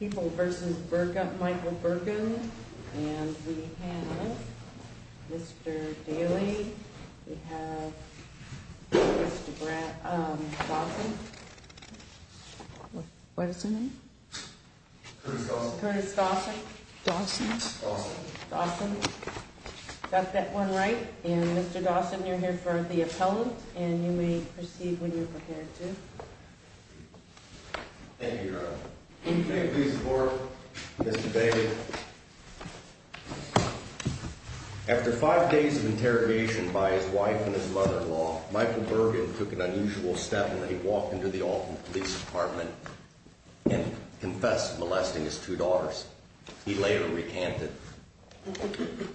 People v. Michael Burgund and we have Mr. Daly, we have Mr. Dawson. What is his name? Curtis Dawson. Dawson. Dawson. Is that one right? And Mr. Dawson, you're here for the appellant and you may proceed when you're prepared to. Thank you, Your Honor. Please support Mr. Daly. After five days of interrogation by his wife and his mother-in-law, Michael Burgund took an unusual step when he walked into the Alton Police Department and confessed to molesting his two daughters. He later recanted.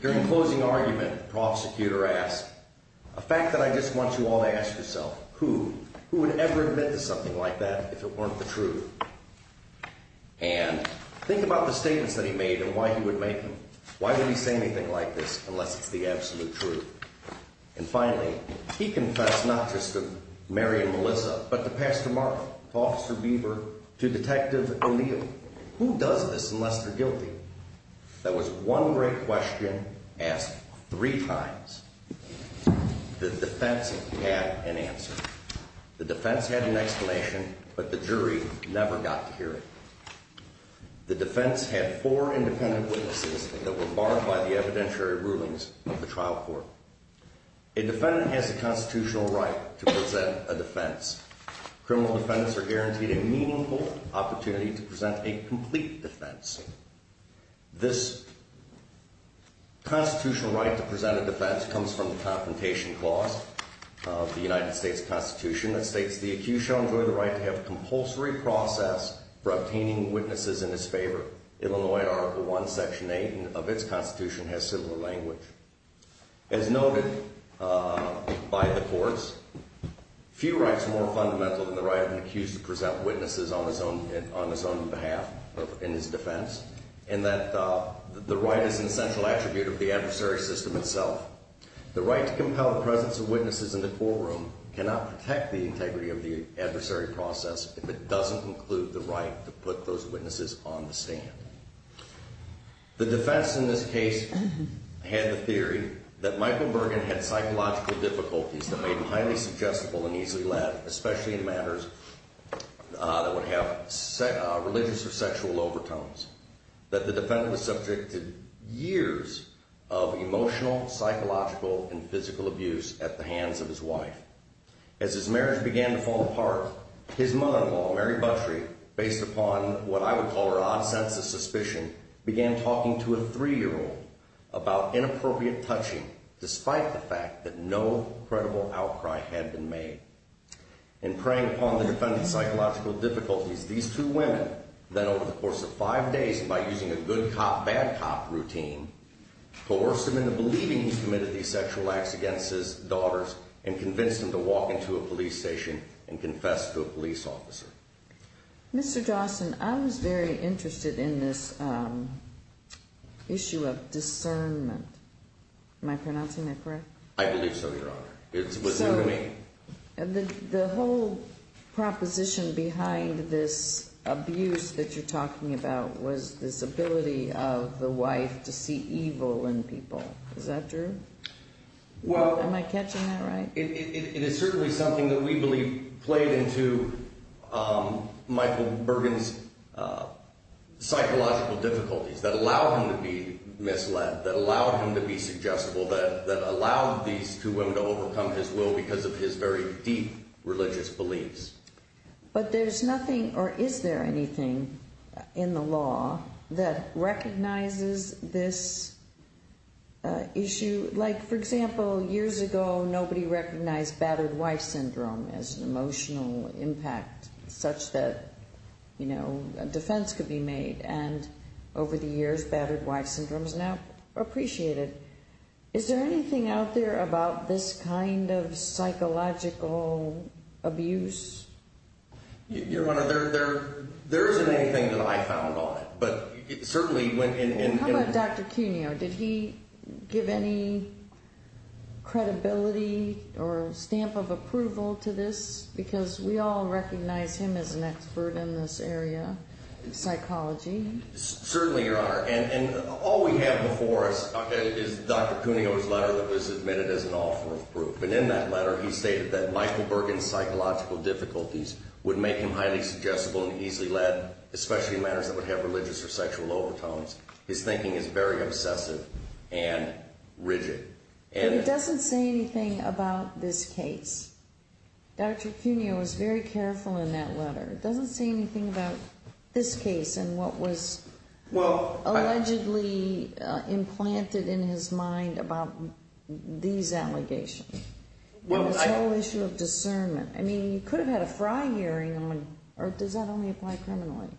During closing argument, the prosecutor asked, a fact that I just want you all to ask yourself, who, who would ever admit to something like that if it weren't the truth? And think about the statements that he made and why he would make them. Why would he say anything like this unless it's the absolute truth? And finally, he confessed not just to Mary and Melissa, but to Pastor Mark, to Officer Beaver, to Detective O'Neill. Who does this unless they're guilty? That was one great question asked three times. The defense had an answer. The defense had an explanation, but the jury never got to hear it. The defense had four independent witnesses that were barred by the evidentiary rulings of the trial court. A defendant has a constitutional right to present a defense. Criminal defendants are guaranteed a meaningful opportunity to present a complete defense. This constitutional right to present a defense comes from the Confrontation Clause of the United States Constitution that states, the accused shall enjoy the right to have a compulsory process for obtaining witnesses in his favor. Illinois Article I, Section 8 of its Constitution has similar language. As noted by the courts, few rights are more fundamental than the right of an accused to present witnesses on his own behalf in his defense, and that the right is an essential attribute of the adversary system itself. The right to compel the presence of witnesses in the courtroom cannot protect the integrity of the adversary process if it doesn't include the right to put those witnesses on the stand. The defense in this case had the theory that Michael Bergen had psychological difficulties that made him highly suggestible and easily led, especially in matters that would have religious or sexual overtones. That the defendant was subject to years of emotional, psychological, and physical abuse at the hands of his wife. As his marriage began to fall apart, his mother-in-law, Mary Buttrey, based upon what I would call her odd sense of suspicion, began talking to a three-year-old about inappropriate touching, despite the fact that no credible outcry had been made. In preying upon the defendant's psychological difficulties, these two women, then over the course of five days, and by using a good cop, bad cop routine, coerced him into believing he committed these sexual acts against his daughters and convinced him to walk into a police station and confess to a police officer. Mr. Dawson, I was very interested in this issue of discernment. Am I pronouncing that correct? I believe so, Your Honor. So, the whole proposition behind this abuse that you're talking about was this ability of the wife to see evil in people. Is that true? Am I catching that right? It is certainly something that we believe played into Michael Bergin's psychological difficulties that allowed him to be misled, that allowed him to be suggestible, that allowed these two women to overcome his will because of his very deep religious beliefs. But there's nothing, or is there anything, in the law that recognizes this issue? Like, for example, years ago, nobody recognized battered wife syndrome as an emotional impact such that, you know, a defense could be made. And over the years, battered wife syndrome is now appreciated. Is there anything out there about this kind of psychological abuse? Your Honor, there isn't anything that I found on it. How about Dr. Cuneo? Did he give any credibility or stamp of approval to this? Because we all recognize him as an expert in this area of psychology. Certainly, Your Honor. And all we have before us is Dr. Cuneo's letter that was submitted as an offer of proof. And in that letter, he stated that Michael Bergin's psychological difficulties would make him highly suggestible and easily led, especially in matters that would have religious or sexual overtones. His thinking is very obsessive and rigid. But it doesn't say anything about this case. Dr. Cuneo was very careful in that letter. It doesn't say anything about this case and what was allegedly implanted in his mind about these allegations, this whole issue of discernment. I mean, you could have had a fry hearing on it. Or does that only apply criminally?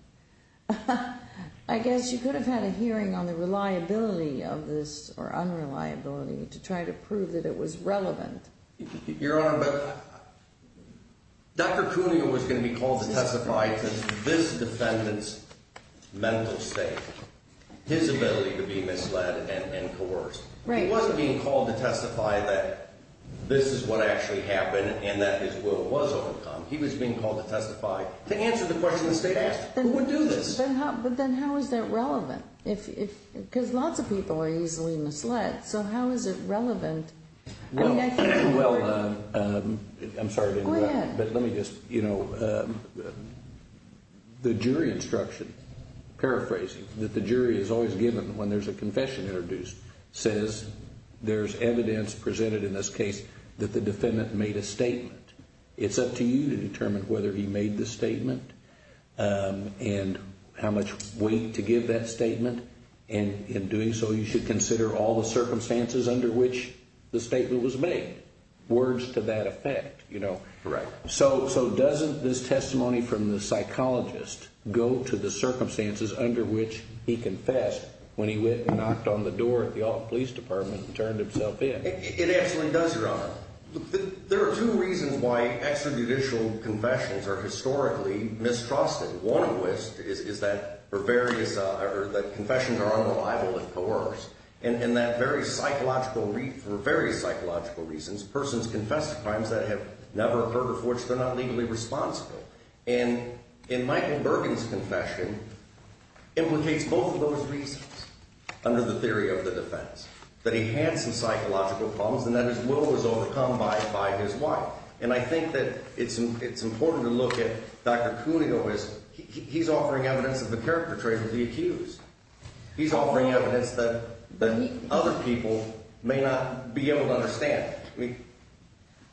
I guess you could have had a hearing on the reliability of this or unreliability to try to prove that it was relevant. Your Honor, Dr. Cuneo was going to be called to testify to this defendant's mental state, his ability to be misled and coerced. He wasn't being called to testify that this is what actually happened and that his will was overcome. He was being called to testify to answer the question the State asked, who would do this? But then how is that relevant? Because lots of people are easily misled, so how is it relevant? Well, I'm sorry to interrupt. Go ahead. But let me just, you know, the jury instruction, paraphrasing that the jury is always given when there's a confession introduced, says there's evidence presented in this case that the defendant made a statement. It's up to you to determine whether he made the statement and how much weight to give that statement. And in doing so, you should consider all the circumstances under which the statement was made. Words to that effect, you know. So doesn't this testimony from the psychologist go to the circumstances under which he confessed when he went and knocked on the door at the Alton Police Department and turned himself in? It actually does, Your Honor. There are two reasons why extrajudicial confessions are historically mistrusted. One of which is that confessions are unreliable and coerce, and that for various psychological reasons, persons confess to crimes that have never occurred before, which they're not legally responsible. And Michael Bergen's confession implicates both of those reasons under the theory of the defense, that he had some psychological problems and that his will was overcome by his wife. And I think that it's important to look at Dr. Cuneo as he's offering evidence of the character trait of the accused. He's offering evidence that other people may not be able to understand.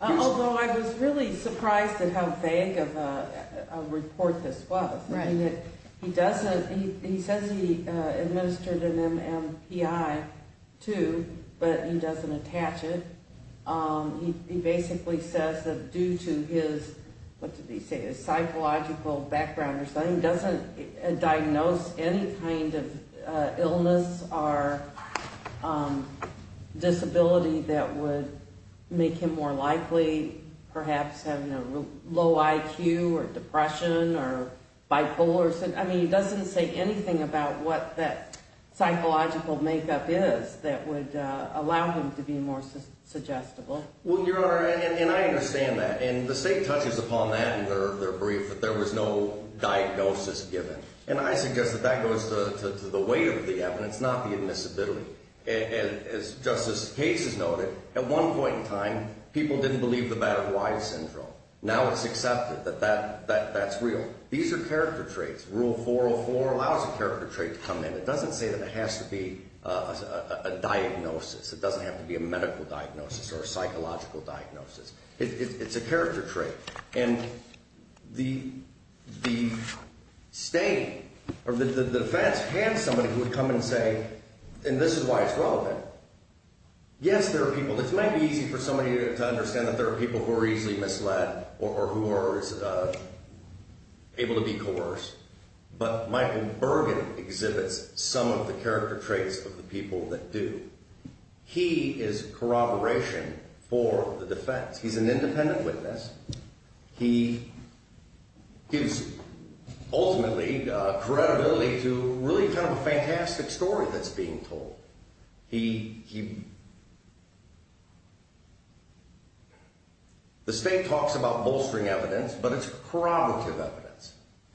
Although I was really surprised at how vague of a report this was. He says he administered an MMPI, too, but he doesn't attach it. He basically says that due to his, what did he say, his psychological background or something, he doesn't diagnose any kind of illness or disability that would make him more likely perhaps having a low IQ or depression or bipolar. I mean, he doesn't say anything about what that psychological makeup is that would allow him to be more suggestible. Well, Your Honor, and I understand that. And the State touches upon that in their brief that there was no diagnosis given. And I suggest that that goes to the weight of the evidence, not the admissibility. And as Justice Case has noted, at one point in time, people didn't believe the battle of Weiss syndrome. Now it's accepted that that's real. These are character traits. Rule 404 allows a character trait to come in. It doesn't say that it has to be a diagnosis. It doesn't have to be a medical diagnosis or a psychological diagnosis. It's a character trait. And the State or the defense has somebody who would come and say, and this is why it's relevant, yes, there are people. This might be easy for somebody to understand that there are people who are easily misled or who are able to be coerced. But Michael Bergen exhibits some of the character traits of the people that do. He is corroboration for the defense. He's an independent witness. He gives, ultimately, credibility to really kind of a fantastic story that's being told. The State talks about bolstering evidence, but it's corroborative evidence.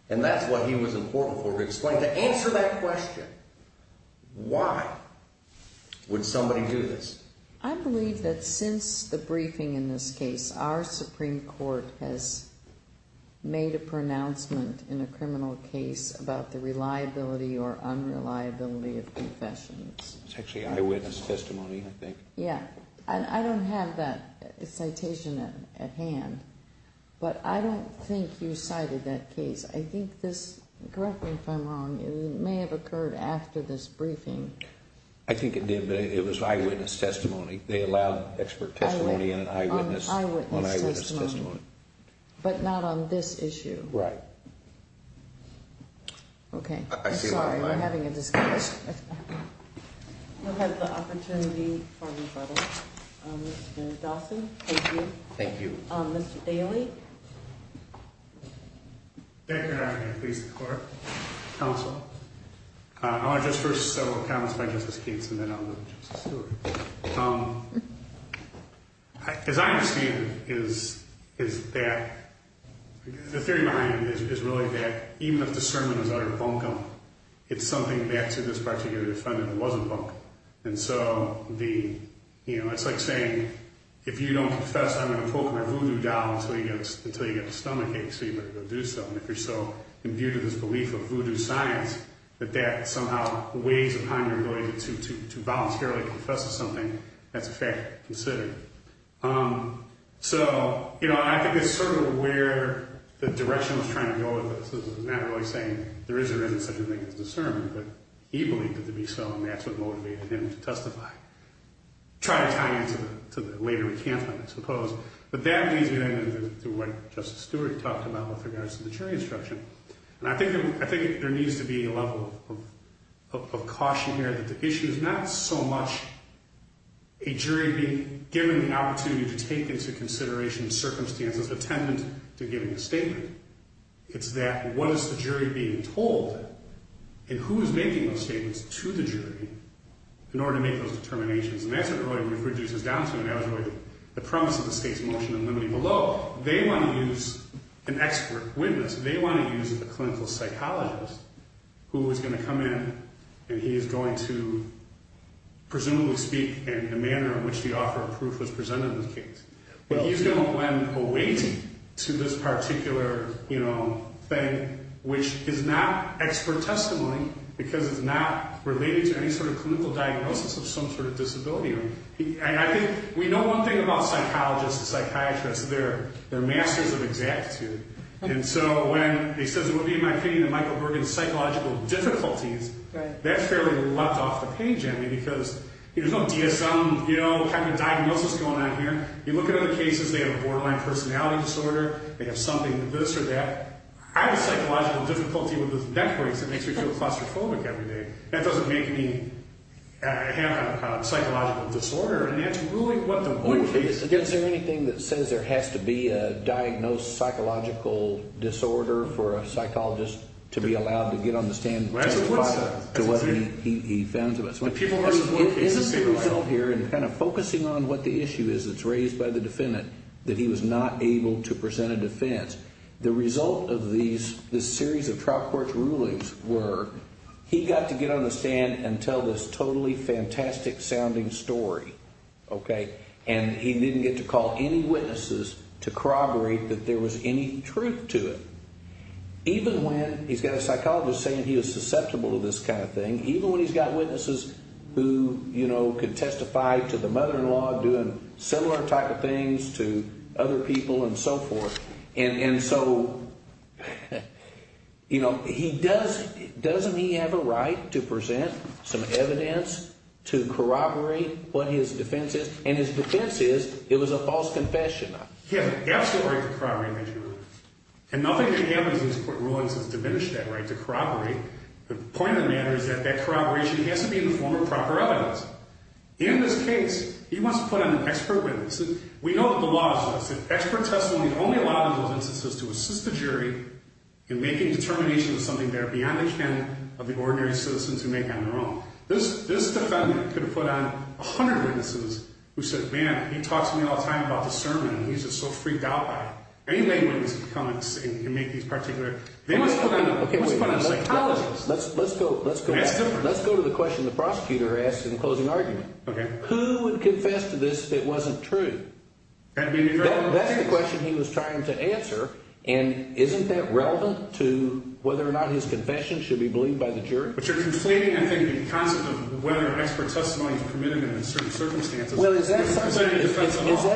And that's what he was important for, to explain, to answer that question. Why would somebody do this? I believe that since the briefing in this case, our Supreme Court has made a pronouncement in a criminal case about the reliability or unreliability of confessions. It's actually eyewitness testimony, I think. Yeah. I don't have that citation at hand, but I don't think you cited that case. I think this, correct me if I'm wrong, it may have occurred after this briefing. I think it did, but it was eyewitness testimony. They allowed expert testimony on eyewitness testimony. But not on this issue. Right. Okay. I'm sorry, we're having a discussion. We'll have the opportunity for rebuttal. Mr. Dawson, thank you. Thank you. Mr. Daly. Thank you, Your Honor. And please, the Court, Counsel. I want to just first settle the comments by Justice Katz, and then I'll go to Justice Stewart. As I understand it, the theory behind it is really that even if the sermon is utter bunkum, it's something back to this particular defendant that wasn't bunkum. And so it's like saying, if you don't confess, I'm going to poke my voodoo doll until you get a stomachache, so you better go do so. And if you're so imbued with this belief of voodoo science, that that somehow weighs upon your ability to voluntarily confess to something, that's a fact to consider. So, you know, I think it's sort of where the direction was trying to go with this. It's not really saying there is or isn't such a thing as discernment, but he believed it to be so, and that's what motivated him to testify. Try to tie into the later recantment, I suppose. But that leads me, then, to what Justice Stewart talked about with regards to the jury instruction. And I think there needs to be a level of caution here that the issue is not so much a jury being given the opportunity to take into consideration circumstances attendant to giving a statement. It's that what is the jury being told, and who is making those statements to the jury in order to make those determinations. And that's what it really reduces down to, and that was really the premise of the state's motion in limiting below. They want to use an expert witness. They want to use a clinical psychologist who is going to come in, and he is going to presumably speak in the manner in which the offer of proof was presented in the case. But he's going to then await to this particular, you know, thing, which is not expert testimony because it's not related to any sort of clinical diagnosis of some sort of disability. And I think we know one thing about psychologists and psychiatrists, they're masters of exactitude. And so when he says it would be, in my opinion, Michael Bergen's psychological difficulties, that fairly left off the page on me because there's no DSM, you know, kind of diagnosis going on here. You look at other cases, they have a borderline personality disorder, they have something to this or that. I have a psychological difficulty with the neck brace. It makes me feel claustrophobic every day. That doesn't make me have a psychological disorder. And it's really what the work case is. Is there anything that says there has to be a diagnosed psychological disorder for a psychologist to be allowed to get on the stand and testify to what he found? The people are the work cases. Isn't the result here, and kind of focusing on what the issue is that's raised by the defendant, that he was not able to present a defense. The result of this series of trial court rulings were he got to get on the stand and tell this totally fantastic sounding story, okay, and he didn't get to call any witnesses to corroborate that there was any truth to it. Even when he's got a psychologist saying he was susceptible to this kind of thing, even when he's got witnesses who, you know, could testify to the mother-in-law doing similar type of things to other people and so forth, and so, you know, he does, doesn't he have a right to present some evidence to corroborate what his defense is? And his defense is it was a false confession. He has an absolute right to corroborate that, Judge. And nothing that happens in these court rulings has diminished that right to corroborate. The point of the matter is that that corroboration has to be in the form of proper evidence. In this case, he wants to put on expert witness. We know what the law says. Expert testimony is only allowed in those instances to assist the jury in making determinations of something that are beyond the ken of the ordinary citizens who make on their own. This defendant could have put on 100 witnesses who said, Man, he talks to me all the time about this sermon, and he's just so freaked out by it. Any lay witness can come and make these particular, they must put on psychologist. Let's go to the question the prosecutor asked in the closing argument. Okay. Who would confess to this if it wasn't true? That's the question he was trying to answer. And isn't that relevant to whether or not his confession should be believed by the jury? But you're conflating, I think, the concept of whether expert testimony is permitted in certain circumstances. Well, is that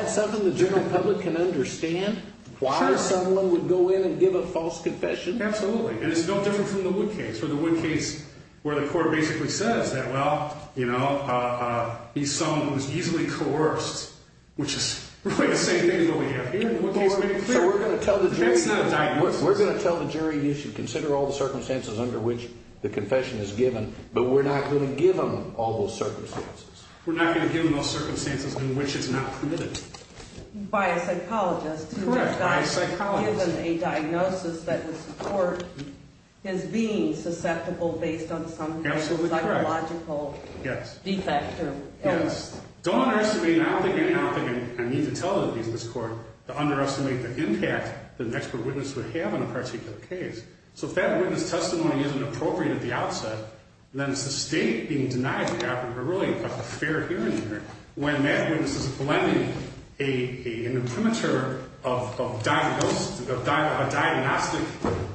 something the general public can understand? Why someone would go in and give a false confession? Absolutely. And it's no different from the Wood case. For the Wood case, where the court basically says that, well, you know, he's someone who's easily coerced, which is really the same thing as what we have here in the Wood case. So we're going to tell the jury you should consider all the circumstances under which the confession is given, but we're not going to give them all those circumstances. We're not going to give them those circumstances in which it's not permitted. By a psychologist. Correct, by a psychologist. So you're not going to give them a diagnosis that would support his being susceptible based on some type of psychological defect or illness. Yes. Don't underestimate, and I don't think I need to tell the business court to underestimate the impact that an expert witness would have on a particular case. So if that witness testimony isn't appropriate at the outset, then it's the state being denied the opportunity to really have a fair hearing here. When that witness is blending an imprimatur of diagnosis, a diagnostic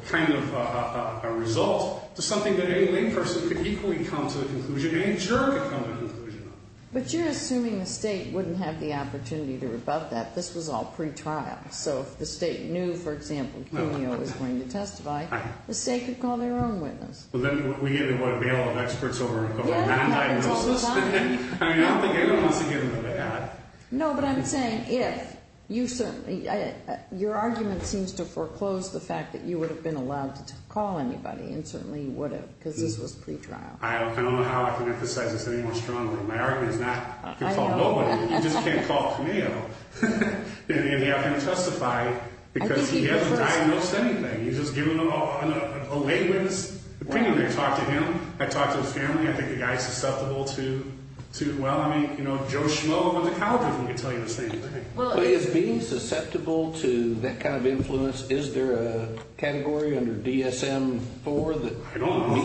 kind of result, to something that any layperson could equally come to a conclusion and a juror could come to a conclusion on. But you're assuming the state wouldn't have the opportunity to rebut that. This was all pre-trial. So if the state knew, for example, Junio was going to testify, the state could call their own witness. Well, then we either want a bailout of experts over a non-diagnosis. I mean, I don't think anyone wants to give them a bailout. No, but I'm saying if you certainly – your argument seems to foreclose the fact that you would have been allowed to call anybody, and certainly you would have because this was pre-trial. I don't know how I can emphasize this any more strongly. My argument is not to call nobody. You just can't call Junio and have him testify because he hasn't diagnosed anything. He's just given a lay witness opinion. I talked to him. I talked to his family. I think the guy's susceptible to – well, I mean, you know, Joe Schmoe of the colleges would tell you the same thing. Well, is being susceptible to that kind of influence – is there a category under DSM-IV that meets that? I don't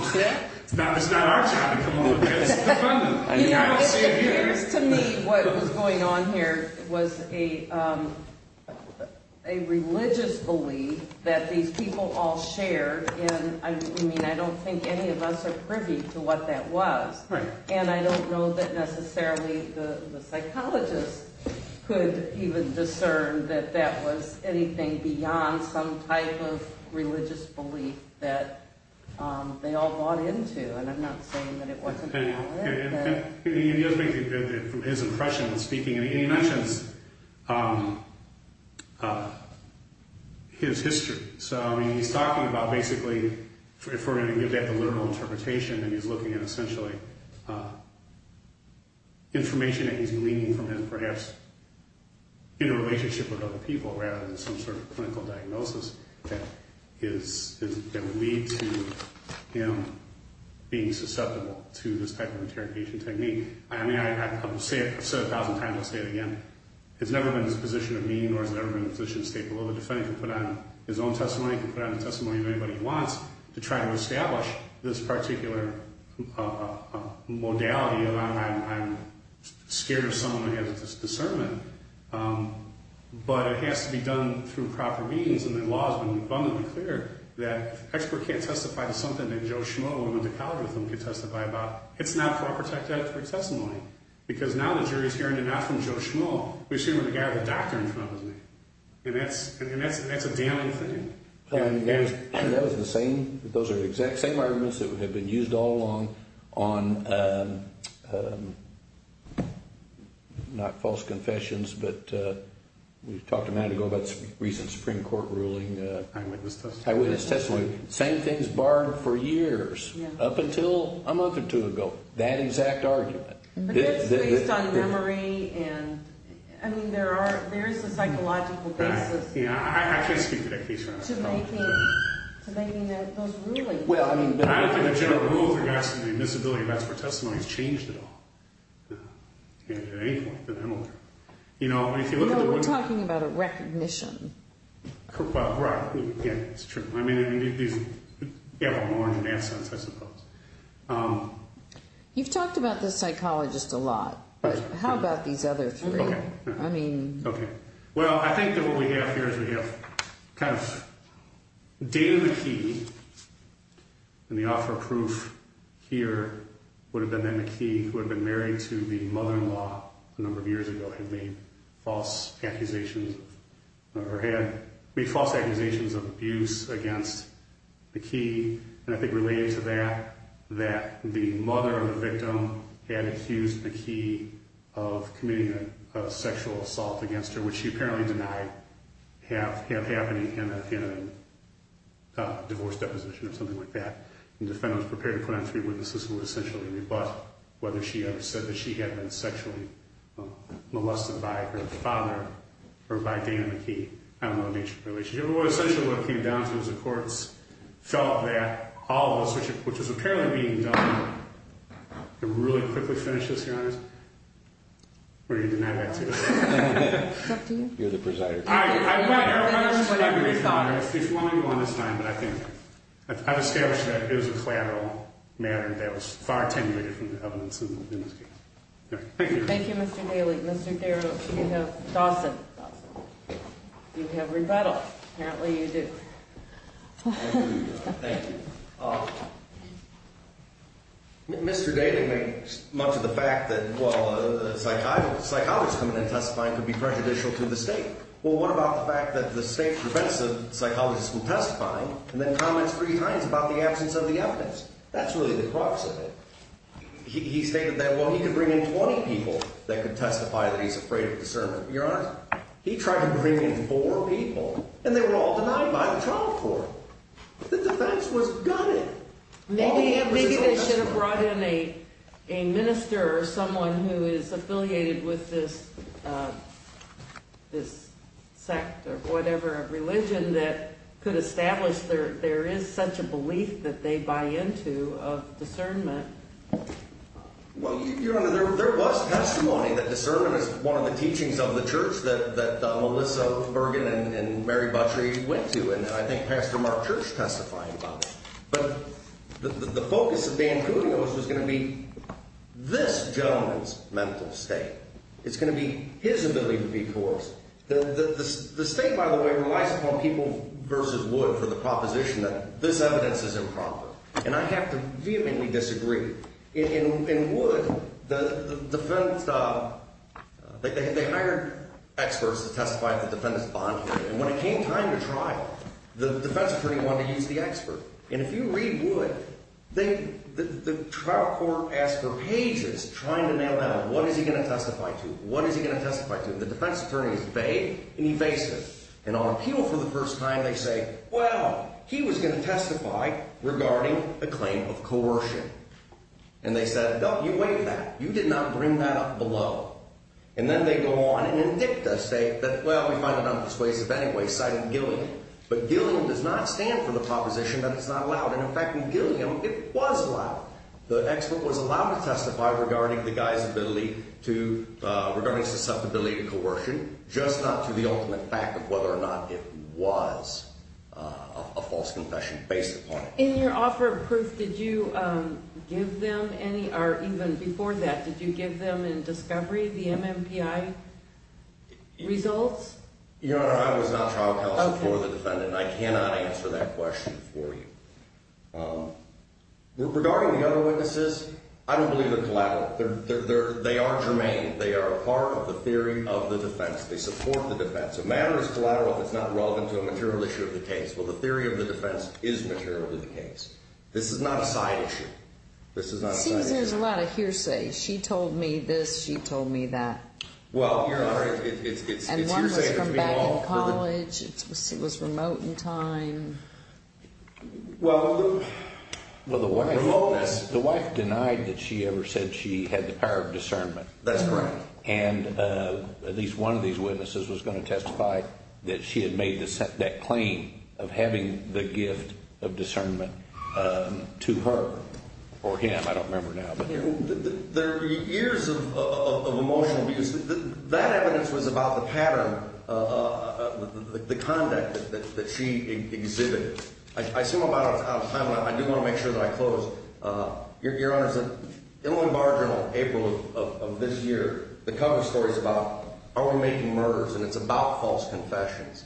know. It's not our job to come up with this. It appears to me what was going on here was a religious belief that these people all shared. And, I mean, I don't think any of us are privy to what that was. And I don't know that necessarily the psychologists could even discern that that was anything beyond some type of religious belief that they all bought into. And I'm not saying that it wasn't valid. And the other thing, from his impression in speaking, and he mentions his history. So, I mean, he's talking about basically, if we're going to give that the literal interpretation, then he's looking at essentially information that he's gleaning from him perhaps in a relationship with other people rather than some sort of clinical diagnosis that would lead to him being susceptible to this type of interrogation technique. I mean, I've said it a thousand times. I'll say it again. It's never been his position of being, nor has it ever been his position of state. Well, the defendant can put on his own testimony. He can put on the testimony of anybody he wants to try to establish this particular modality of, I'm scared of someone who has this discernment. But it has to be done through proper means. And the law has been abundantly clear that an expert can't testify to something that Joe Schmoe, a woman who went to college with him, can testify about. It's not for a protected testimony. Because now the jury is hearing it not from Joe Schmoe. We're seeing it with a guy with a doctor in front of him. And that's a damning thing. That was the same. Those are the exact same arguments that have been used all along on, not false confessions, but we talked a minute ago about the recent Supreme Court ruling. Eyewitness testimony. Eyewitness testimony. Same things barred for years. Up until a month or two ago. That exact argument. But that's based on memory and, I mean, there is a psychological basis. I can't speak to that case right now. To making those rulings. Well, I don't think the general rule regards to the invisibility of expert testimonies changed at all. At any point. No, we're talking about a recognition. Well, right. Yeah, it's true. I mean, these have a more advanced sense, I suppose. You've talked about the psychologist a lot, but how about these other three? Okay. Well, I think that what we have here is we have kind of David McKee. And the offer of proof here would have been that McKee, who had been married to the mother-in-law a number of years ago, had made false accusations of abuse against McKee. And I think related to that, that the mother of the victim had accused McKee of committing a sexual assault against her, which she apparently denied had happened in a divorce deposition or something like that. And defendants prepared to put on three witnesses who would essentially rebut whether she had said that she had been sexually molested by her father or by Dana McKee. I don't know the nature of the relationship. But essentially what it came down to is the courts felt that all of this, which is apparently being done, can really quickly finish this case. Were you going to deny that too? You're the presider. All right. I've established that it was a collateral matter that was far attenuated from the evidence in this case. All right. Thank you. Thank you, Mr. Daly. Mr. Darrow, you have Dawson. You have rebuttal. Apparently you do. Thank you. Mr. Daly makes much of the fact that, well, a psychologist coming in and testifying could be prejudicial to the state. Well, what about the fact that the state prevents a psychologist from testifying and then comments three times about the absence of the evidence? That's really the crux of it. He stated that, well, he could bring in 20 people that could testify that he's afraid of discernment. Your Honor, he tried to bring in four people, and they were all denied by the trial court. The defense was gutted. Maybe they should have brought in a minister or someone who is affiliated with this sect or whatever, a religion that could establish there is such a belief that they buy into of discernment. Well, Your Honor, there was testimony that discernment is one of the teachings of the church that Melissa Bergen and Mary Butchery went to, and I think Pastor Mark Church testified about it. But the focus of Van Cunio's was going to be this gentleman's mental state. It's going to be his ability to be coerced. The state, by the way, relies upon people versus wood for the proposition that this evidence is improper. And I have to vehemently disagree. In wood, the defense, they hired experts to testify at the defendant's bond hearing. And when it came time to trial, the defense attorney wanted to use the expert. And if you read wood, the trial court asked for pages trying to nail down what is he going to testify to, what is he going to testify to. And the defense attorney is vague and evasive. And on appeal for the first time, they say, well, he was going to testify regarding a claim of coercion. And they said, no, you waived that. You did not bring that up below. And then they go on and in dicta state that, well, we find it undisclosive anyway, citing Gilliam. But Gilliam does not stand for the proposition that it's not allowed. And, in fact, in Gilliam, it was allowed. The expert was allowed to testify regarding the guy's ability to, regarding susceptibility to coercion, just not to the ultimate fact of whether or not it was a false confession based upon it. In your offer of proof, did you give them any, or even before that, did you give them in discovery the MMPI results? Your Honor, I was not trial counsel for the defendant. I cannot answer that question for you. Regarding the other witnesses, I don't believe they're collateral. They are germane. They are part of the theory of the defense. They support the defense. A matter is collateral if it's not relevant to a material issue of the case. Well, the theory of the defense is material to the case. This is not a side issue. This is not a side issue. It seems there's a lot of hearsay. She told me this. She told me that. Well, Your Honor, it's hearsay. And one was from back in college. It was remote in time. Well, the wife denied that she ever said she had the power of discernment. That's correct. And at least one of these witnesses was going to testify that she had made that claim of having the gift of discernment to her or him. I don't remember now. There are years of emotional abuse. That evidence was about the pattern, the conduct that she exhibited. I assume I'm out of time, but I do want to make sure that I close. Your Honor, Illinois Bar Journal, April of this year, the cover story is about are we making murders, and it's about false confessions.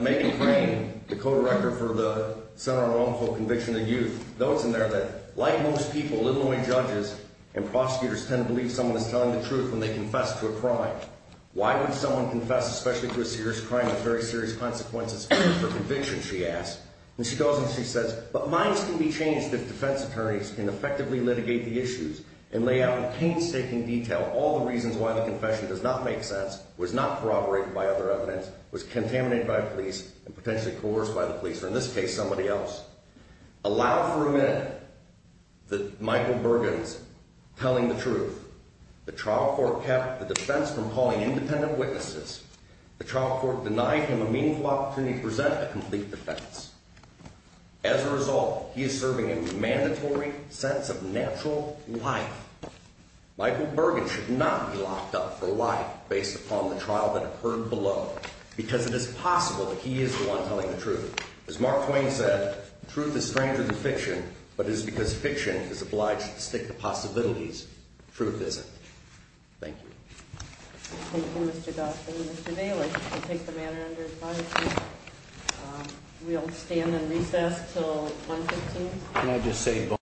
Megan Crane, the co-director for the Center on Wrongful Conviction of Youth, notes in there that, like most people, Illinois judges and prosecutors tend to believe someone is telling the truth when they confess to a crime. Why would someone confess, especially to a serious crime with very serious consequences, for conviction, she asked. And she goes and she says, but minds can be changed if defense attorneys can effectively litigate the issues and lay out in painstaking detail all the reasons why the confession does not make sense, was not corroborated by other evidence, was contaminated by police, and potentially coerced by the police, or in this case, somebody else. Allow for a minute that Michael Bergen's telling the truth. The trial court kept the defense from calling independent witnesses. The trial court denied him a meaningful opportunity to present a complete defense. As a result, he is serving a mandatory sense of natural life. Michael Bergen should not be locked up for life based upon the trial that occurred below, because it is possible that he is the one telling the truth. As Mark Twain said, truth is stranger than fiction, but it is because fiction is obliged to stick to possibilities. Truth isn't. Thank you. Thank you, Mr. Gosselin. Mr. Daly, we'll take the matter under advisory. We'll stand and recess until 115. Can I just say—